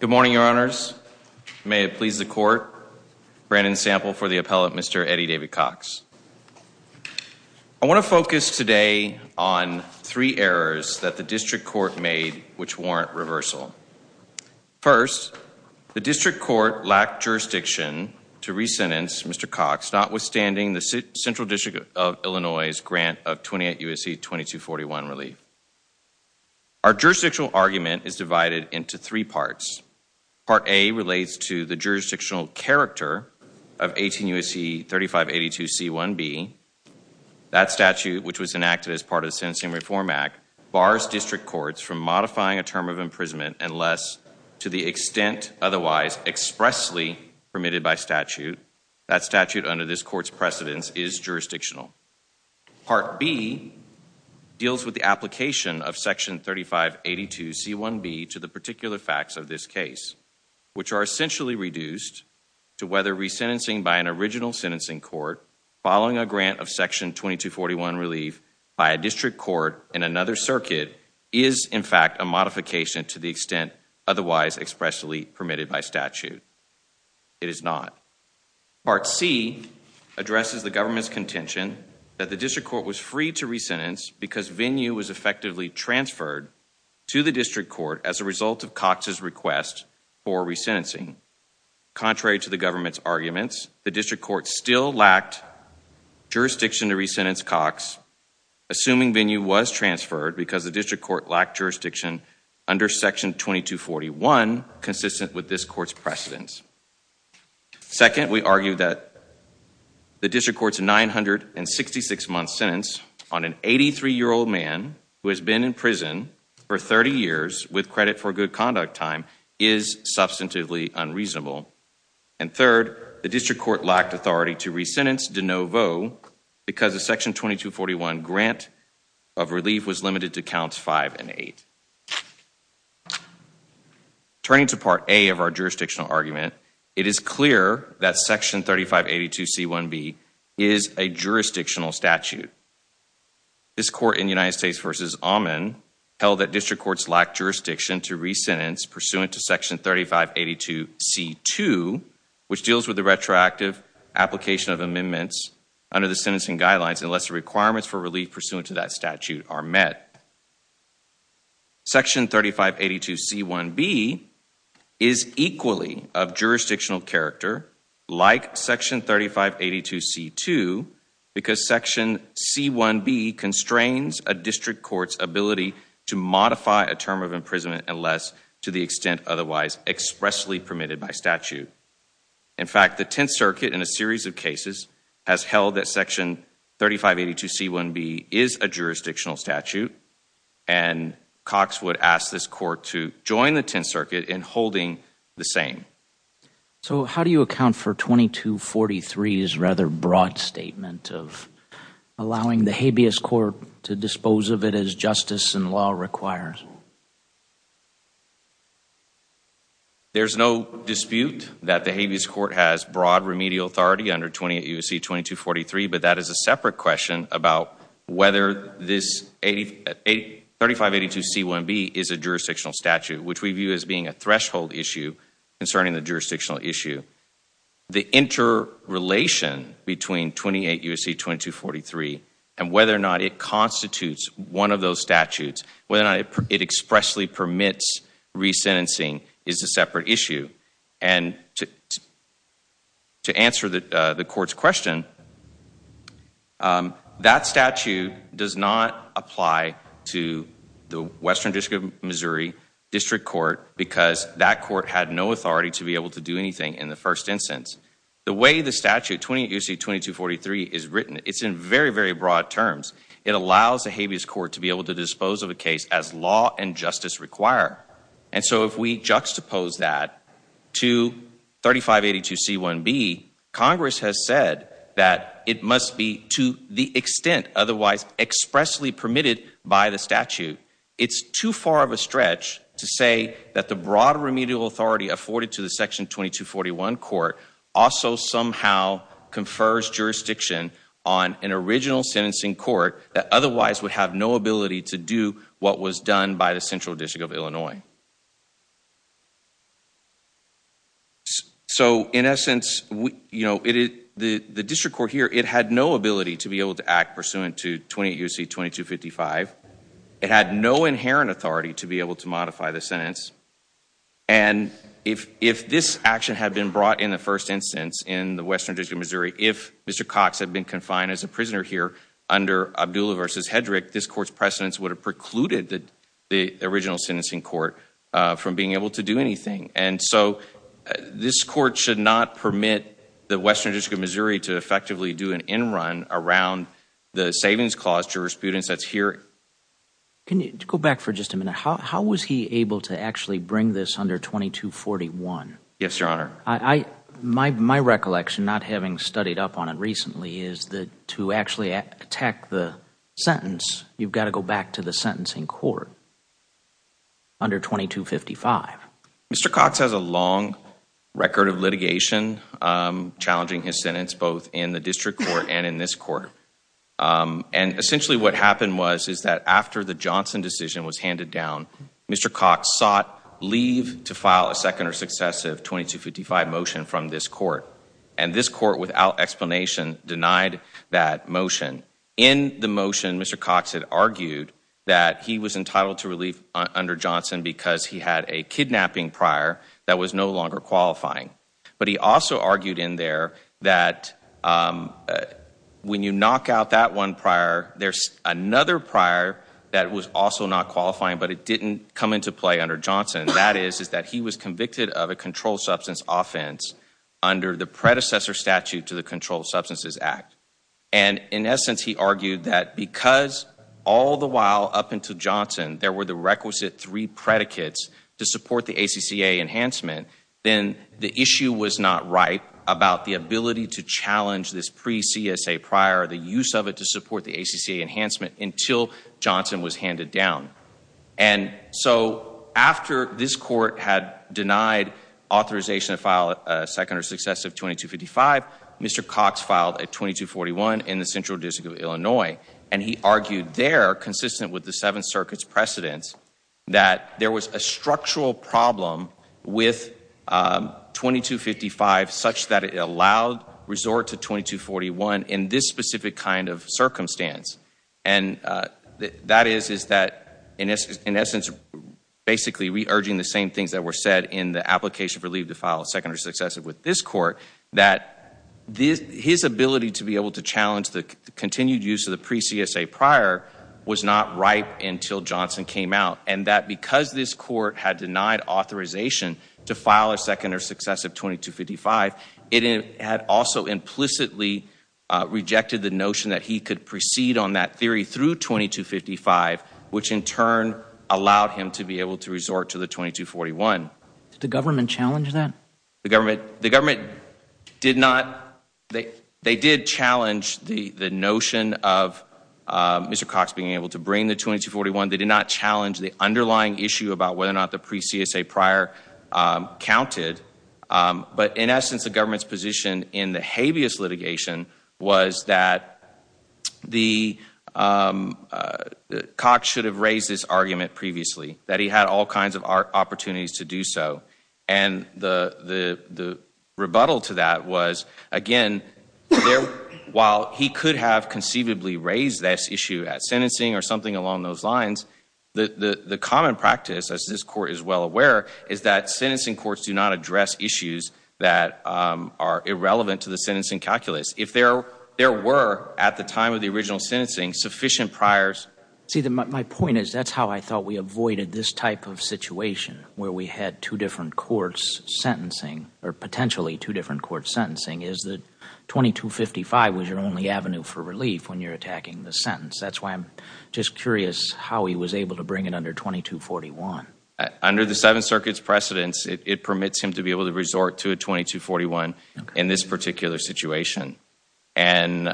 Good morning, your honors. May it please the court. Brandon Sample for the appellate, Mr. Eddie David Cox. I want to focus today on three errors that the district court made which warrant reversal. First, the district court lacked jurisdiction to re-sentence Mr. Cox, notwithstanding the Central District of Virginia. Second, the statute is divided into three parts. Part A relates to the jurisdictional character of 18 U.S.C. 3582 C-1B. That statute, which was enacted as part of the Sentencing Reform Act, bars district courts from modifying a term of imprisonment unless, to the extent otherwise expressly permitted by statute, that statute under this court's precedence is jurisdictional. Part B deals with the application of Section 3582 C-1B to the particular facts of this case, which are essentially reduced to whether re-sentencing by an original sentencing court following a grant of Section 2241 relief by a district court in another circuit is, in fact, a modification to the extent otherwise expressly permitted by statute. It is not. Part C addresses the government's free to re-sentence because venue was effectively transferred to the district court as a result of Cox's request for re-sentencing. Contrary to the government's arguments, the district court still lacked jurisdiction to re-sentence Cox, assuming venue was transferred because the district court lacked jurisdiction under Section 2241 consistent with this court's precedence. Second, we argue that the district court's 966 month sentence on an 83 year old man who has been in prison for 30 years with credit for good conduct time is substantively unreasonable. And third, the district court lacked authority to re-sentence De Novo because the Section 2241 grant of relief was limited to Section 3582C1B. It is clear that Section 3582C1B is a jurisdictional statute. This court in United States v. Amman held that district courts lacked jurisdiction to re-sentence pursuant to Section 3582C2, which deals with the retroactive application of amendments under the sentencing guidelines unless the requirements for relief pursuant to that statute are met. Section 3582C1B is equally of jurisdictional character like Section 3582C2 because Section C1B constrains a district court's ability to modify a term of imprisonment unless to the extent otherwise expressly permitted by statute. In fact, the Tenth Circuit in a series of cases has held that Section 3582C1B is a jurisdictional statute and the same. So how do you account for 2243's rather broad statement of allowing the habeas court to dispose of it as justice and law requires? There's no dispute that the habeas court has broad remedial authority under 28 U.S.C. 2243, but that is a separate question about whether this 3582C1B is a concerning the jurisdictional issue. The interrelation between 28 U.S.C. 2243 and whether or not it constitutes one of those statutes, whether or not it expressly permits re-sentencing is a separate issue. And to answer the court's question, that statute does not apply to the Western District of to be able to do anything in the first instance. The way the statute, 28 U.S.C. 2243, is written, it's in very, very broad terms. It allows the habeas court to be able to dispose of a case as law and justice require. And so if we juxtapose that to 3582C1B, Congress has said that it must be to the extent otherwise expressly permitted by the statute. It's too far of a stretch to say that the broad remedial authority afforded to the section 2241 court also somehow confers jurisdiction on an original sentencing court that otherwise would have no ability to do what was done by the Central District of Illinois. So in essence, you know, the district court here, it had no ability to be able to act pursuant to 28 U.S.C. 2255. It had no inherent authority to be able to And if this action had been brought in the first instance in the Western District of Missouri, if Mr. Cox had been confined as a prisoner here under Abdullah v. Hedrick, this court's precedents would have precluded the original sentencing court from being able to do anything. And so this court should not permit the Western District of Missouri to effectively do an in-run around the savings clause jurisprudence that's here. Can you go back for just a minute? How was he able to actually bring this under 2241? Yes, Your Honor. My recollection, not having studied up on it recently, is that to actually attack the sentence, you've got to go back to the sentencing court under 2255. Mr. Cox has a long record of litigation challenging his sentence, both in the district court and in this court. And essentially what happened was is that after the Johnson decision was handed down, Mr. Cox sought leave to file a second or successive 2255 motion from this court. And this court, without explanation, denied that motion. In the motion, Mr. Cox had argued that he was entitled to relief under Johnson because he had a kidnapping prior that was no longer qualifying. But he also argued in there that when you have another prior that was also not qualifying but it didn't come into play under Johnson, that is, is that he was convicted of a controlled substance offense under the predecessor statute to the Controlled Substances Act. And in essence, he argued that because all the while up until Johnson there were the requisite three predicates to support the ACCA enhancement, then the issue was not right about the ability to challenge this pre-CSA prior, the use of it to until Johnson was handed down. And so after this court had denied authorization to file a second or successive 2255, Mr. Cox filed a 2241 in the Central District of Illinois. And he argued there, consistent with the Seventh Circuit's precedents, that there was a structural problem with 2255 such that it allowed resort to 2241 in this specific kind of circumstance. And that is, is that in essence, basically re-urging the same things that were said in the application for leave to file a second or successive with this court, that his ability to be able to challenge the continued use of the pre-CSA prior was not ripe until Johnson came out. And that because this court had denied authorization to file a second or successive 2255, it had also implicitly rejected the notion that he could proceed on that theory through 2255, which in turn allowed him to be able to resort to the 2241. Did the government challenge that? The government, the government did not. They, they did challenge the the notion of Mr. Cox being able to bring the 2241. They did not challenge the underlying issue about whether or not the pre-CSA prior counted. But in essence, the government's position in the habeas litigation was that Cox should have raised this argument previously, that he had all kinds of opportunities to do so. And the rebuttal to that was, again, while he could have conceivably raised this issue at sentencing or something along those lines, the common practice, as this court is well aware, is that sentencing courts do not address issues that are irrelevant to the sentencing calculus. If there were, at the time of the original sentencing, sufficient priors. See, my point is that's how I thought we avoided this type of situation, where we had two different courts sentencing, or potentially two different courts sentencing, is that 2255 was your only avenue for relief when you're attacking the sentence. That's why I'm just curious how he was able to bring it under 2241. Under the Seventh Circuit's precedents, it permits him to be able to resort to a 2241 in this particular situation. And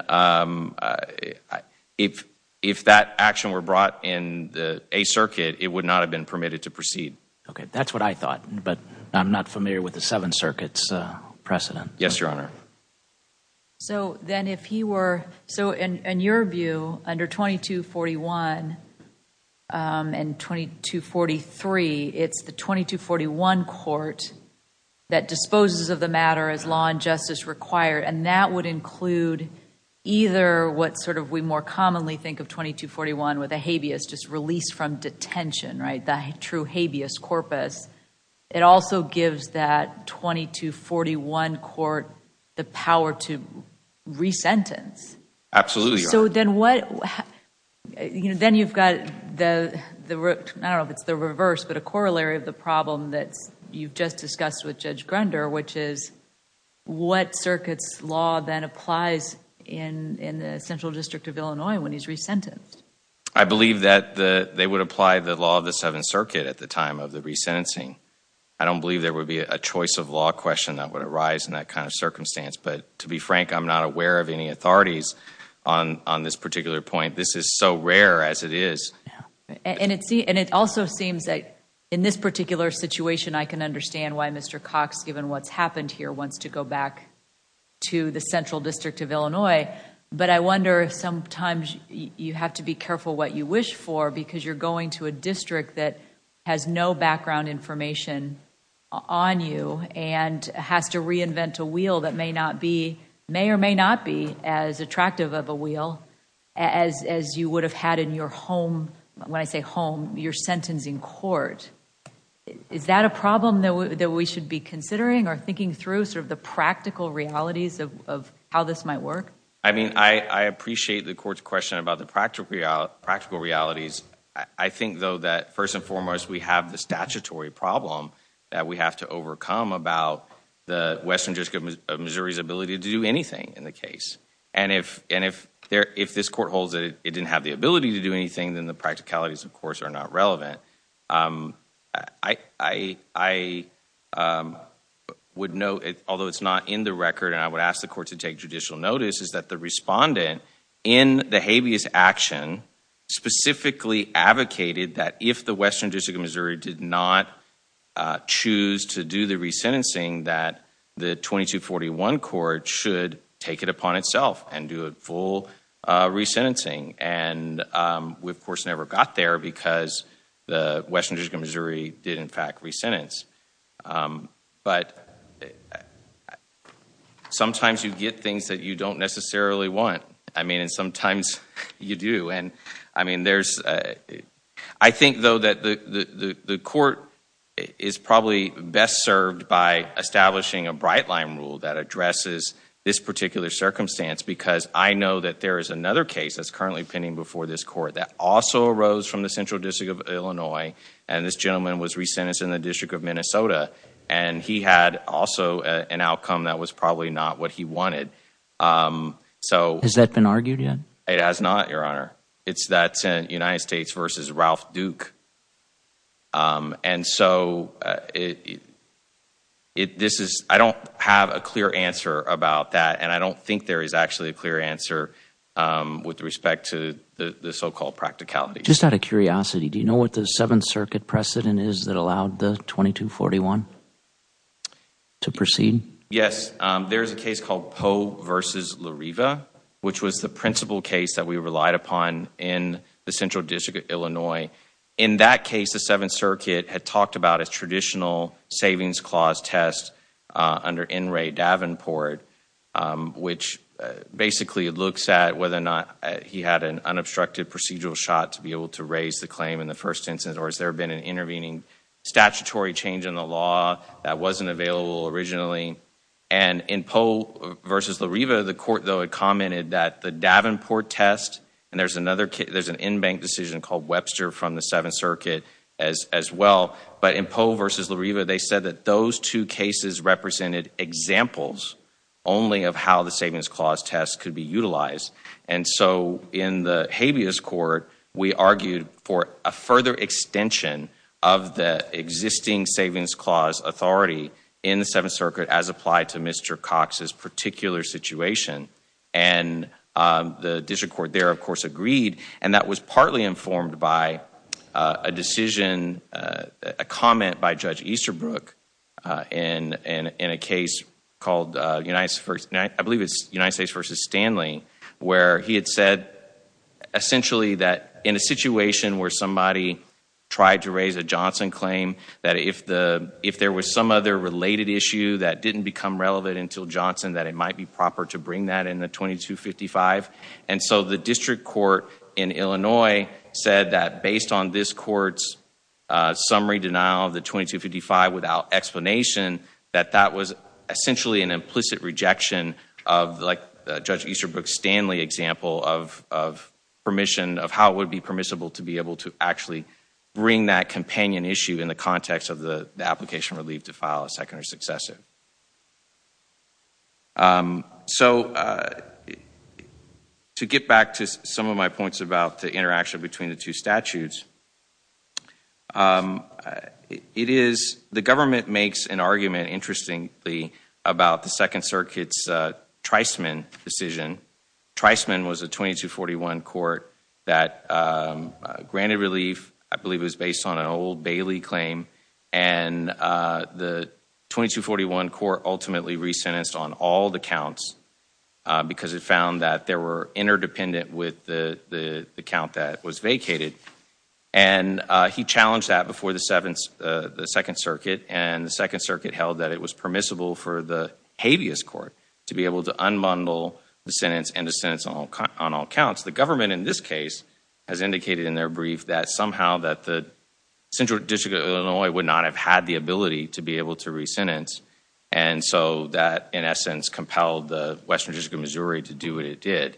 if, if that action were brought in the A circuit, it would not have been permitted to proceed. Okay, that's what I thought, but I'm not familiar with the Seventh Circuit's precedent. Yes, Your Honor. So then if he were, so in your view, under 2241 and 2243, it's the 2241 court that disposes of the matter as law and justice required, and that would include either what sort of we more commonly think of 2241 with a habeas, just release from detention, right, the true habeas corpus. It also gives that 2241 court the power to re-sentence. Absolutely, Your Honor. So then what, you know, then you've got the, I don't know if it's the reverse, but a corollary of the problem that you've just discussed with Judge Grunder, which is what circuit's law then applies in, in the Central District of Illinois when he's re-sentenced? I believe that the, they would apply the law of the Seventh Circuit at the time of the re-sentencing. I don't believe there would be a choice of law question that would arise in that kind of circumstance, but to be frank, I'm not aware of any authorities on, on this particular point. This is so rare as it is. And it see, and it also seems that in this particular situation, I can understand why Mr. Cox, given what's happened here, wants to go back to the Central District of Illinois, but I wonder if sometimes you have to be careful what you wish for because you're going to a district that has no background information on you and has to reinvent a wheel that may or may not be as attractive of a wheel as you would have had in your home, when I say home, your sentencing court. Is that a problem that we should be considering or thinking through, sort of the practical realities of how this might work? I mean, I appreciate the court's question about the practical realities. I think, though, that first and foremost, we have the statutory problem that we have to overcome about the Western District of Missouri's ability to do anything in the case. And if, and if there, if this court holds that it didn't have the ability to do anything, then the practicalities, of course, are not relevant. I would note, although it's not in the record, and I would ask the court to take judicial notice, is that the respondent in the action specifically advocated that if the Western District of Missouri did not choose to do the resentencing, that the 2241 court should take it upon itself and do a full resentencing. And we, of course, never got there because the Western District of Missouri did, in fact, resentence. But sometimes you get things that you don't necessarily want. I mean, and sometimes you do. And, I mean, there's, I think, though, that the court is probably best served by establishing a bright line rule that addresses this particular circumstance because I know that there is another case that's currently pending before this court that also arose from the Central District of Illinois, and this gentleman was resentenced in the District of Minnesota, and he had also an outcome that was probably not what he wanted. So... Has that been argued yet? It has not, Your Honor. It's that United States v. Ralph Duke. And so, I don't have a clear answer about that, and I don't think there is actually a clear answer with respect to the so-called practicalities. Just out of curiosity, do you know what the Seventh Circuit precedent is that allowed the 2241 to proceed? Yes. There's a case called Poe v. Lariva, which was the principal case that we relied upon in the Central District of Illinois. In that case, the Seventh Circuit had talked about a traditional savings clause test under N. Ray Davenport, which basically looks at whether or not he had an unobstructed procedural shot to be able to raise the claim in the first instance, or has there been an intervening statutory change in the law that wasn't available originally? And in Poe v. Lariva, the court, though, had commented that the Davenport test... and there's an in-bank decision called Webster from the Seventh Circuit as well... but in Poe v. Lariva, they said that those two cases represented examples only of how the savings clause test could be utilized. And so, in the habeas court, we argued for a further extension of the existing savings clause authority in the Seventh Circuit as applied to Mr. Cox's particular situation. And the district court there, of course, agreed, and that was partly informed by a decision... a comment by Judge Easterbrook in a case called United States v. Stanley, where he had said, essentially, that in a situation where somebody tried to raise a Johnson claim, that if the... if there was some other related issue that didn't become relevant until Johnson, that it might be proper to bring that in the 2255. And so, the district court in Illinois said that, based on this court's summary denial of the 2255 without explanation, that that was essentially an implicit rejection of, like Judge Easterbrook's Stanley example of permission... of how it would be a companion issue in the context of the application relief to file a second or successive. So, to get back to some of my points about the interaction between the two statutes, it is... the government makes an argument, interestingly, about the Second Circuit's Treisman decision. Treisman was a 2241 court that granted an old Bailey claim, and the 2241 court ultimately re-sentenced on all the counts, because it found that they were interdependent with the count that was vacated. And he challenged that before the Second Circuit, and the Second Circuit held that it was permissible for the habeas court to be able to unbundle the sentence and to sentence on all counts. The government, in this case, has said that the Central District of Illinois would not have had the ability to be able to re-sentence, and so that, in essence, compelled the Western District of Missouri to do what it did.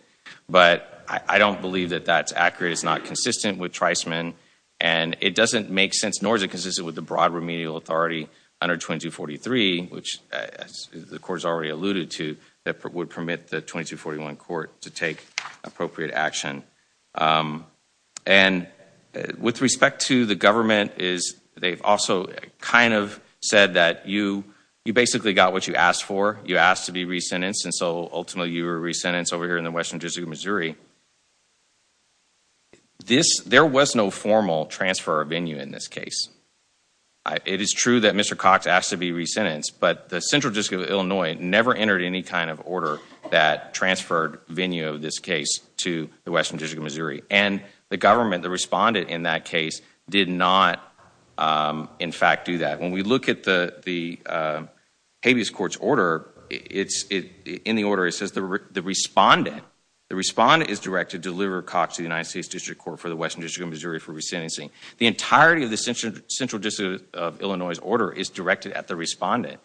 But I don't believe that that's accurate. It's not consistent with Treisman, and it doesn't make sense, nor is it consistent with the broad remedial authority under 2243, which the Court has already alluded to, that would permit the 2241 court to take appropriate action. And with respect to the government, they've also kind of said that you basically got what you asked for. You asked to be re-sentenced, and so ultimately you were re-sentenced over here in the Western District of Missouri. There was no formal transfer of venue in this case. It is true that Mr. Cox asked to be re-sentenced, but the Central District of Illinois never entered any kind of order that transferred venue of this case to the Western District of Missouri. And the government, the respondent in that case, did not, in fact, do that. When we look at the habeas court's order, in the order it says the respondent, the respondent is directed to deliver Cox to the United States District Court for the Western District of Missouri for re-sentencing. The entirety of the Central District of Illinois's order is directed at the respondent,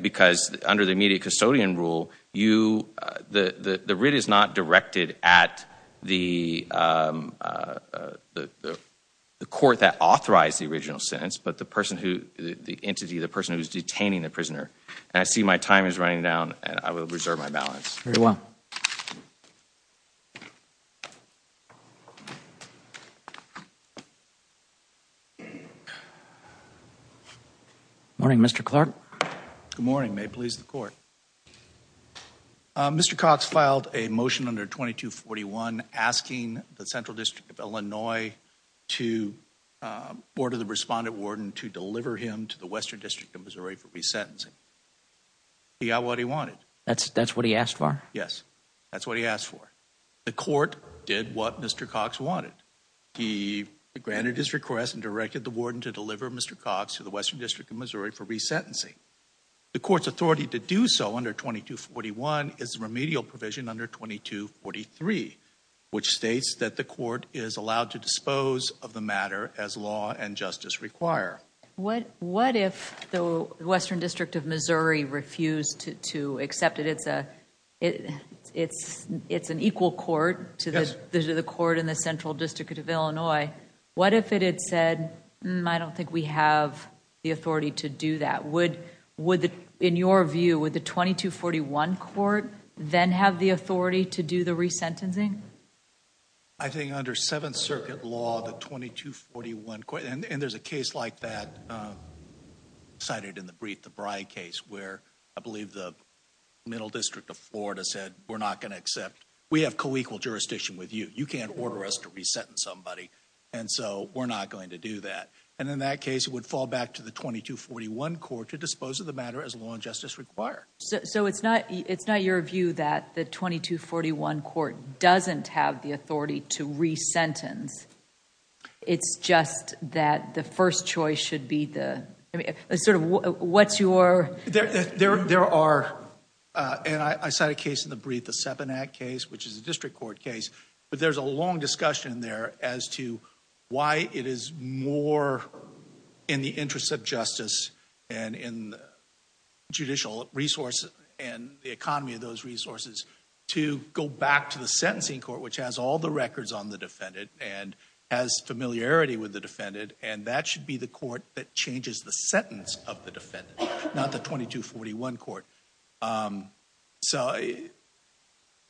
because under the immediate custodian rule, the writ is not directed at the court that authorized the original sentence, but the person who, the entity, the person who's detaining the prisoner. And I see my time is running down, and I will reserve my balance. Very well. Good morning, Mr. Clark. Good morning, may it please the court. Mr. Cox filed a motion under 2241 asking the Central District of Illinois to order the respondent warden to deliver him to the Western District of Missouri for re-sentencing. He got what he wanted. That's what he asked for? Yes, that's what he asked for. The court did what Mr. Cox wanted. He granted his request and directed the warden to deliver Mr. Cox to the Western District of Missouri for re-sentencing. The court's authority to do so under 2241 is the remedial provision under 2243, which states that the court is allowed to dispose of the matter as law and Missouri refused to accept it. It's an equal court to the court in the Central District of Illinois. What if it had said, I don't think we have the authority to do that. Would, in your view, would the 2241 court then have the authority to do the re-sentencing? I think under Seventh Circuit law, the 2241 court, and there's a case like that cited in the brief, the Bry case, where I believe the Middle District of Florida said we're not going to accept. We have co-equal jurisdiction with you. You can't order us to re-sentence somebody and so we're not going to do that. In that case, it would fall back to the 2241 court to dispose of the matter as law and justice require. It's not your view that the 2241 court doesn't have the authority to re-sentence. It's just that the first choice should be the... sort of what's your... There are, and I cite a case in the brief, the Seppanak case, which is a district court case, but there's a long discussion there as to why it is more in the interest of justice and in judicial resources and the economy of those resources to go back to the sentencing court, which has all the records on the familiarity with the defendant, and that should be the court that changes the sentence of the defendant, not the 2241 court. So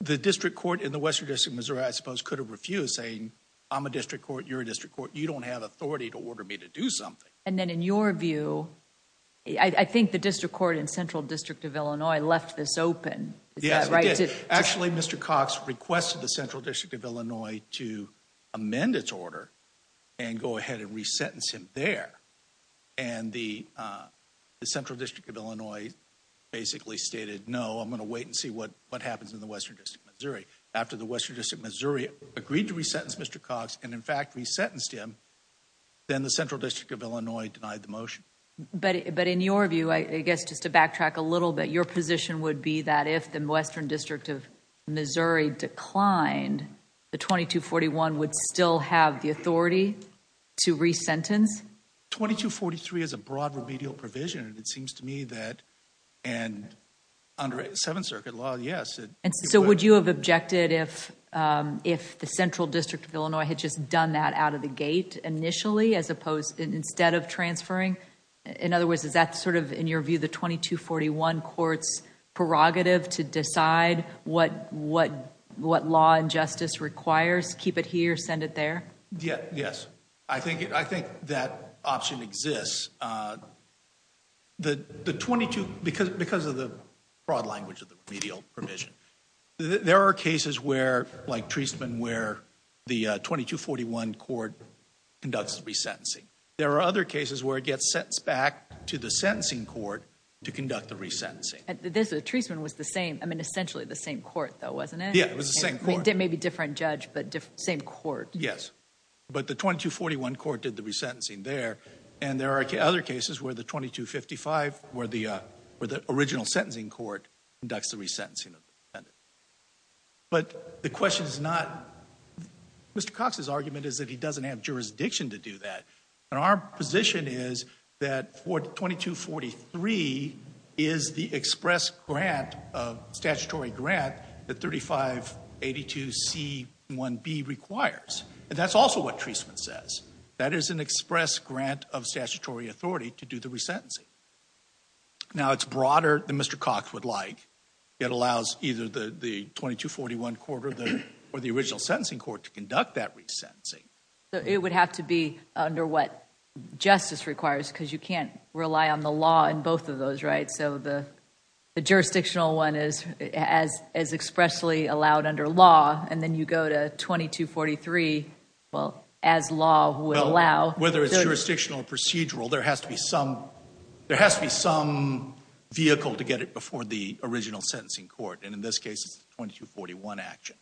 the district court in the Western District of Missouri, I suppose, could have refused saying I'm a district court, you're a district court, you don't have authority to order me to do something. And then in your view, I think the district court in Central District of Illinois left this open. Yes, it did. Actually, Mr. Cox requested the Central District of Illinois to go ahead and re-sentence him there, and the Central District of Illinois basically stated no, I'm going to wait and see what happens in the Western District of Missouri. After the Western District of Missouri agreed to re-sentence Mr. Cox, and in fact re-sentenced him, then the Central District of Illinois denied the motion. But in your view, I guess just to backtrack a little bit, your position would be that if the Western District of re-sentence? 2243 is a broad remedial provision, and it seems to me that under Seventh Circuit law, yes. So would you have objected if the Central District of Illinois had just done that out of the gate initially, as opposed, instead of transferring? In other words, is that sort of, in your view, the 2241 court's prerogative to decide what law and justice requires? Keep it I think that option exists. Because of the broad language of the remedial provision, there are cases where, like Treisman, where the 2241 court conducts re-sentencing. There are other cases where it gets sent back to the sentencing court to conduct the re-sentencing. Treisman was the same, I mean essentially the same court though, wasn't it? Yeah, it was the same court. It may be a different judge, but same court. Yes, but the 2241 court did the re-sentencing there, and there are other cases where the 2255, where the original sentencing court conducts the re-sentencing. But the question is not, Mr. Cox's argument is that he doesn't have jurisdiction to do that, and our position is that 2243 is the express grant, statutory grant, that 3582C1B requires. And that's also what Treisman says. That is an express grant of statutory authority to do the re-sentencing. Now it's broader than Mr. Cox would like. It allows either the 2241 court or the original sentencing court to because you can't rely on the law in both of those, right? So the jurisdictional one is as expressly allowed under law, and then you go to 2243, well, as law would allow. Whether it's jurisdictional or procedural, there has to be some vehicle to get it before the original sentencing court, and in this case it's the 2241 action.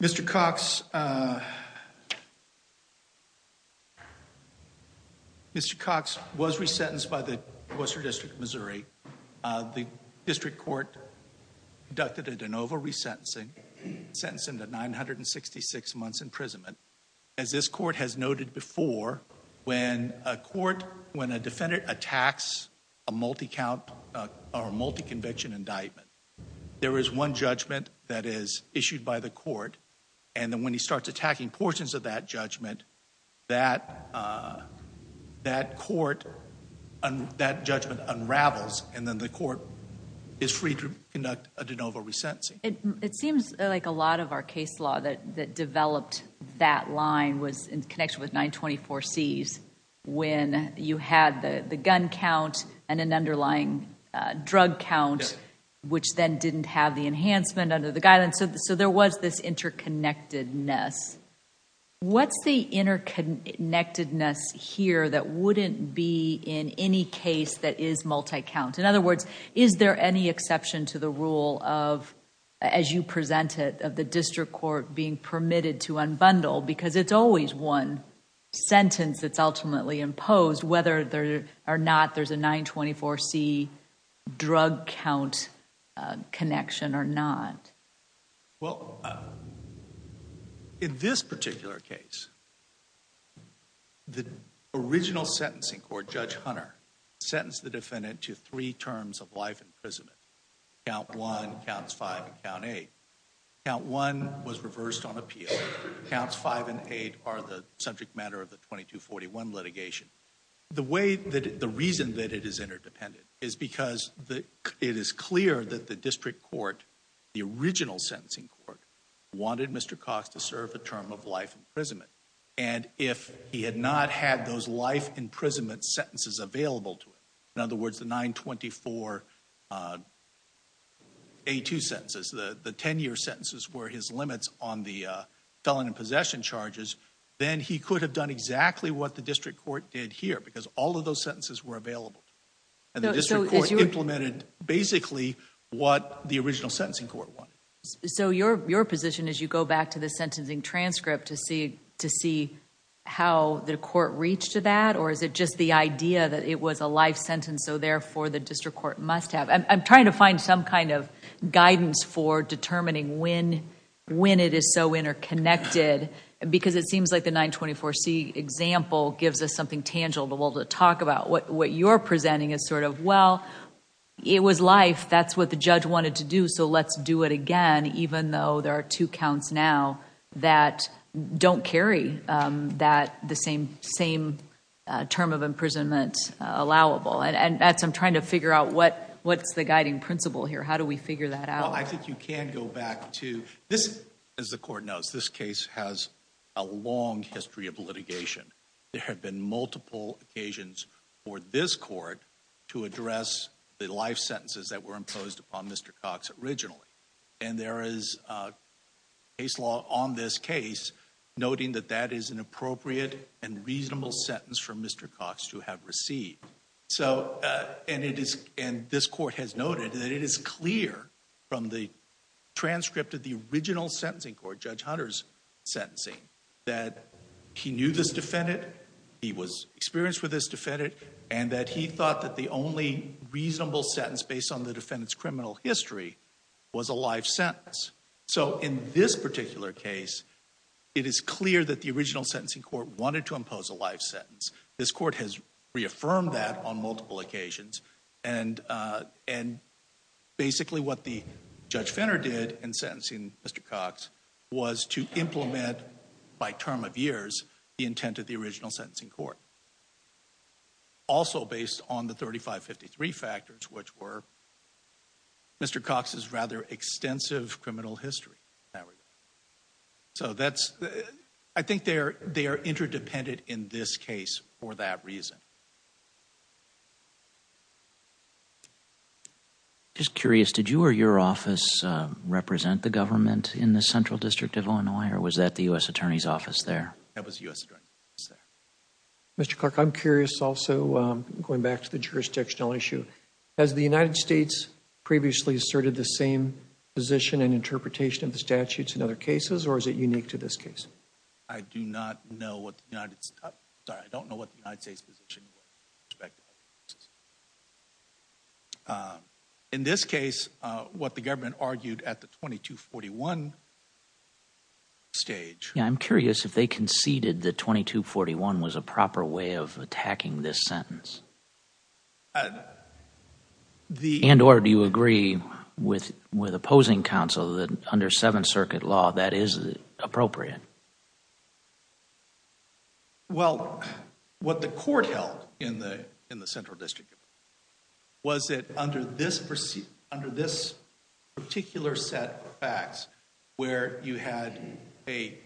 Mr. Cox, Mr. Cox was resentenced by the Worcester District of Missouri. The district court conducted a de novo re-sentencing, sentenced him to 966 months imprisonment. As this court has noted before, when a court, when a defendant attacks a multi-count or a multi-conviction indictment, there is one judgment that is issued by the court, and then when he starts attacking portions of that judgment, that court, that judgment unravels, and then the court is free to conduct a de novo resentencing. It seems like a lot of our case law that developed that line was in connection with 924 C's, when you had the gun count and an underlying drug count, which then didn't have the enhancement under the guidance, so there was this interconnectedness. What's the interconnectedness here that wouldn't be in any case that is multi-count? In other words, is there any exception to the rule of, as you presented, of the district court being permitted to unbundle, because it's always one sentence that's ultimately imposed, whether or not there's a 924 C drug count connection or not? Well, in this particular case, the original sentencing court, Judge Hunter, sentenced the defendant to three terms of life imprisonment, count one, counts five, and count eight. Count one was reversed on appeal. Counts five and eight are the subject matter of the 2241 litigation. The reason that it is interdependent is because it is clear that the district court, the original sentencing court, wanted Mr. Cox to serve a term of life imprisonment, and if he had not had those life imprisonment sentences available to him, in other words, the 924 A2 sentences, the ten-year sentences were his limits on the felon in possession charges, then he could have done exactly what the district court did here, because all of those sentences were available, and the district court implemented basically what the original sentencing court wanted. So your position is you go back to the sentencing transcript to see how the court reached to that, or is it just the idea that it was a life sentence, so therefore the district court must have? I'm trying to find some kind of guidance for determining when it is so interconnected, because it seems like the 924 C example gives us something tangible to talk about. What you're presenting is sort of, well, it was life, that's what the judge wanted to do, so let's do it again, even though there are two counts now that don't carry the same term of imprisonment allowable. I'm trying to figure out what's the guiding principle here, how do we figure that out? I think you can go back to this, as the court knows, this case has a long history of litigation. There have been multiple occasions for this court to address the life sentences that were imposed upon Mr. Cox originally, and there is case law on this case noting that that is an appropriate and reasonable sentence for Mr. Cox to have received. So, and it is, and this court has noted that it is clear from the transcript of the original sentencing court, Judge Hunter's sentencing, that he knew this defendant, he was experienced with this defendant, and that he thought that the only reasonable sentence based on the defendant's criminal history was a life sentence. So, in this particular case, it is clear that the original sentencing court wanted to impose a life sentence. This court has reaffirmed that on and basically what the Judge Fenner did in sentencing Mr. Cox was to implement, by term of years, the intent of the original sentencing court. Also based on the 3553 factors, which were Mr. Cox's rather extensive criminal history. So that's, I think they are interdependent in this case for that Just curious, did you or your office represent the government in the Central District of Illinois, or was that the U.S. Attorney's Office there? That was U.S. Attorney's Office there. Mr. Clark, I'm curious also, going back to the jurisdictional issue, has the United States previously asserted the same position and interpretation of the statutes in other cases, or is it unique to this case? I do not know what the United States, sorry, I don't know what the United States position was. In this case, what the government argued at the 2241 stage. Yeah, I'm curious if they conceded that 2241 was a proper way of attacking this sentence? And or do you agree with Well, what the court held in the in the Central District of Illinois was that under this particular set of facts, where you had a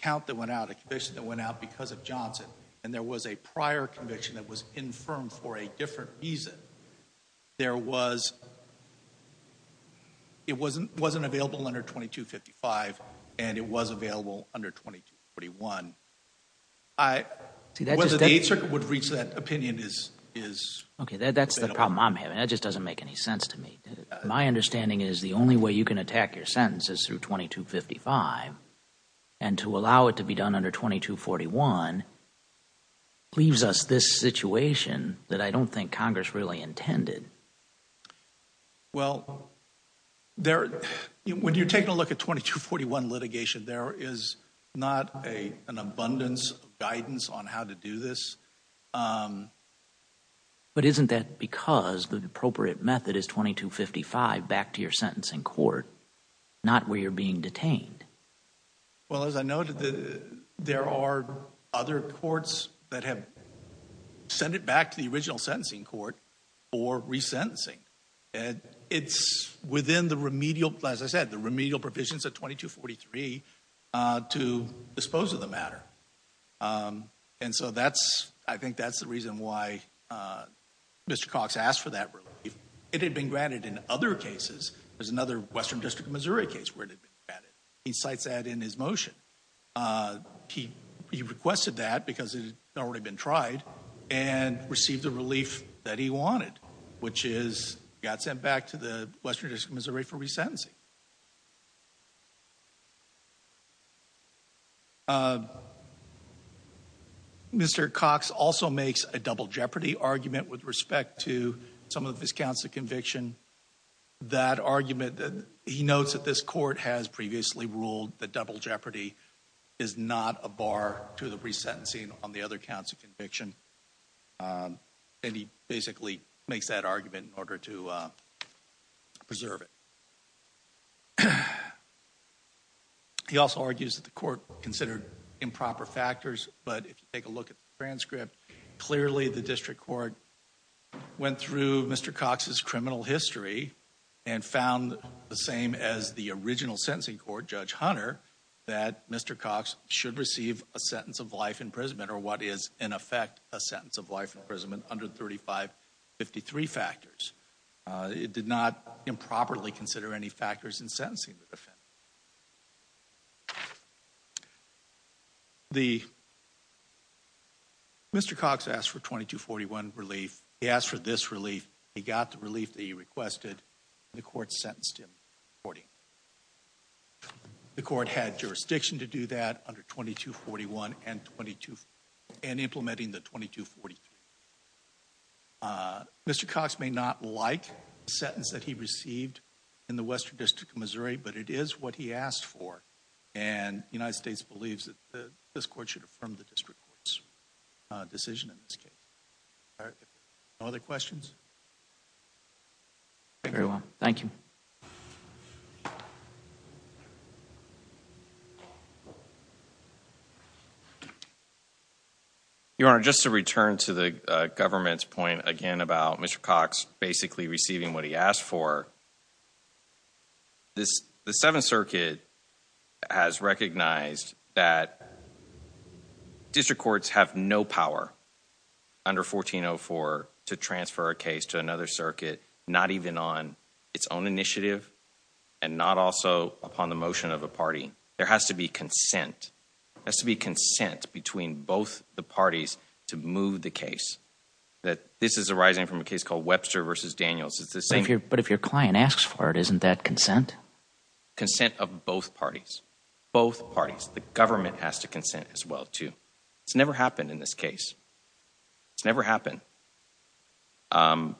count that went out, a conviction that went out because of Johnson, and there was a prior conviction that was infirmed for a different reason, it wasn't available under 2255, and it was available under 2241. Whether the Eighth Circuit would reach that opinion is... Okay, that's the problem I'm having. That just doesn't make any sense to me. My understanding is the only way you can attack your sentence is through 2255, and to allow it to be done under 2241 leaves us this When you're taking a look at 2241 litigation, there is not an abundance of guidance on how to do this. But isn't that because the appropriate method is 2255 back to your sentencing court, not where you're being detained? Well, as I noted, there are other courts that have sent it back to the original sentencing court for resentencing. And it's within the remedial, as I said, the remedial provisions of 2243 to dispose of the matter. And so that's, I think that's the reason why Mr. Cox asked for that relief. It had been granted in other cases. There's another Western District of Missouri case where it had been granted. He cites that in his motion. He requested that because it had already been tried and received a that he wanted, which is got sent back to the Western District of Missouri for resentencing. Mr. Cox also makes a double jeopardy argument with respect to some of his counts of conviction. That argument that he notes that this court has previously ruled that double jeopardy is not a bar to the resentencing on the other counts of conviction. And he basically makes that argument in order to preserve it. He also argues that the court considered improper factors, but if you take a look at the transcript, clearly the district court went through Mr. Cox's criminal history and found the same as the original sentencing court, Judge Hunter, that Mr. Cox should receive a sentence of life imprisonment, or what is in effect a sentence of life imprisonment, under 3553 factors. It did not improperly consider any factors in sentencing the defendant. Mr. Cox asked for 2241 relief. He asked for this relief. He got the relief that he The court had jurisdiction to do that under 2241 and implementing the 2243. Mr. Cox may not like the sentence that he received in the Western District of Missouri, but it is what he asked for, and the United States believes that this court should affirm the district court's decision in this case. No other questions? Very well. Thank you. Your Honor, just to return to the government's point again about Mr. Cox basically receiving what he asked for, the Seventh Circuit has recognized that district courts have no power under 1404 to transfer a case to another circuit, not even on its own initiative and not also upon the motion of a party. There has to be consent. There has to be consent between both the parties to move the case. This is arising from a case called Webster v. Daniels. But if your client asks for it, isn't that consent? Consent of both parties. Both parties. The government has to consent as well, too. It's never happened in this case. It's never happened. And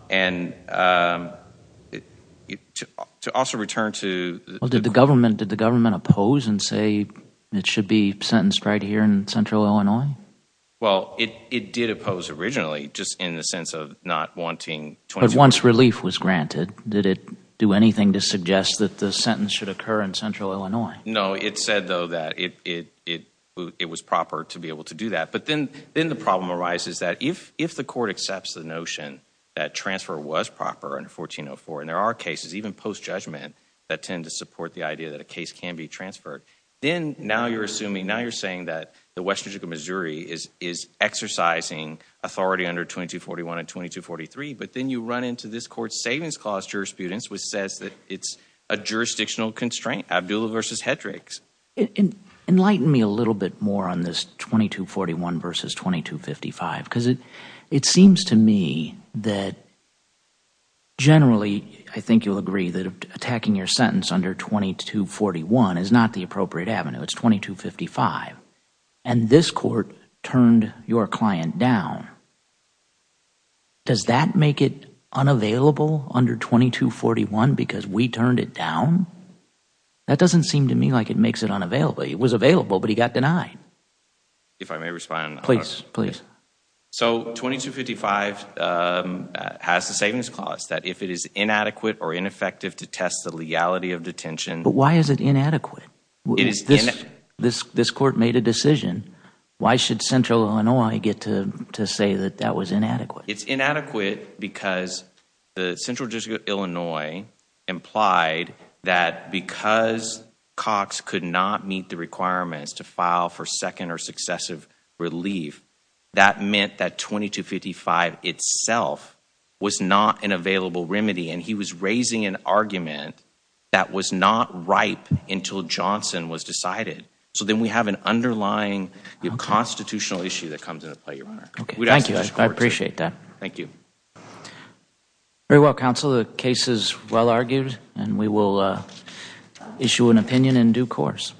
to also return to— Well, did the government oppose and say it should be sentenced right here in Central Illinois? Well, it did oppose originally, just in the sense of not wanting— But once relief was granted, did it do anything to suggest that the sentence should occur in Central Illinois? No, it said, though, that it was proper to be able to do that. But then the problem arises that if the court accepts the notion that transfer was proper under 1404, and there are cases, even post-judgment, that tend to support the idea that a case can be transferred, then now you're assuming, now you're saying that the Western District of Missouri is exercising authority under 2241 and 2243, but then you run into this court's Savings Clause jurisprudence, which says that it's a jurisdictional constraint, Abdullah v. Hedricks. Enlighten me a little bit more on this 2241 versus 2255, because it seems to me that generally I think you'll agree that attacking your sentence under 2241 is not the appropriate avenue. It's 2255. And this court turned your client down. Does that make it unavailable under 2241 because we turned it down? That doesn't seem to me like it makes it unavailable. It was available, but he got denied. If I may respond. Please, please. So 2255 has the Savings Clause that if it is inadequate or ineffective to test the leality of detention But why is it inadequate? This court made a decision. Why should Central Illinois get to say that that was inadequate? It's inadequate because the Central District of Illinois implied that because Cox could not meet the requirements to file for second or successive relief, that meant that 2255 itself was not an available remedy. And he was raising an argument that was not ripe until Johnson was decided. So then we have an underlying constitutional issue that comes into play, Your Honor. Thank you. I appreciate that. Thank you. Very well, counsel. The case is well argued, and we will issue an opinion in due course.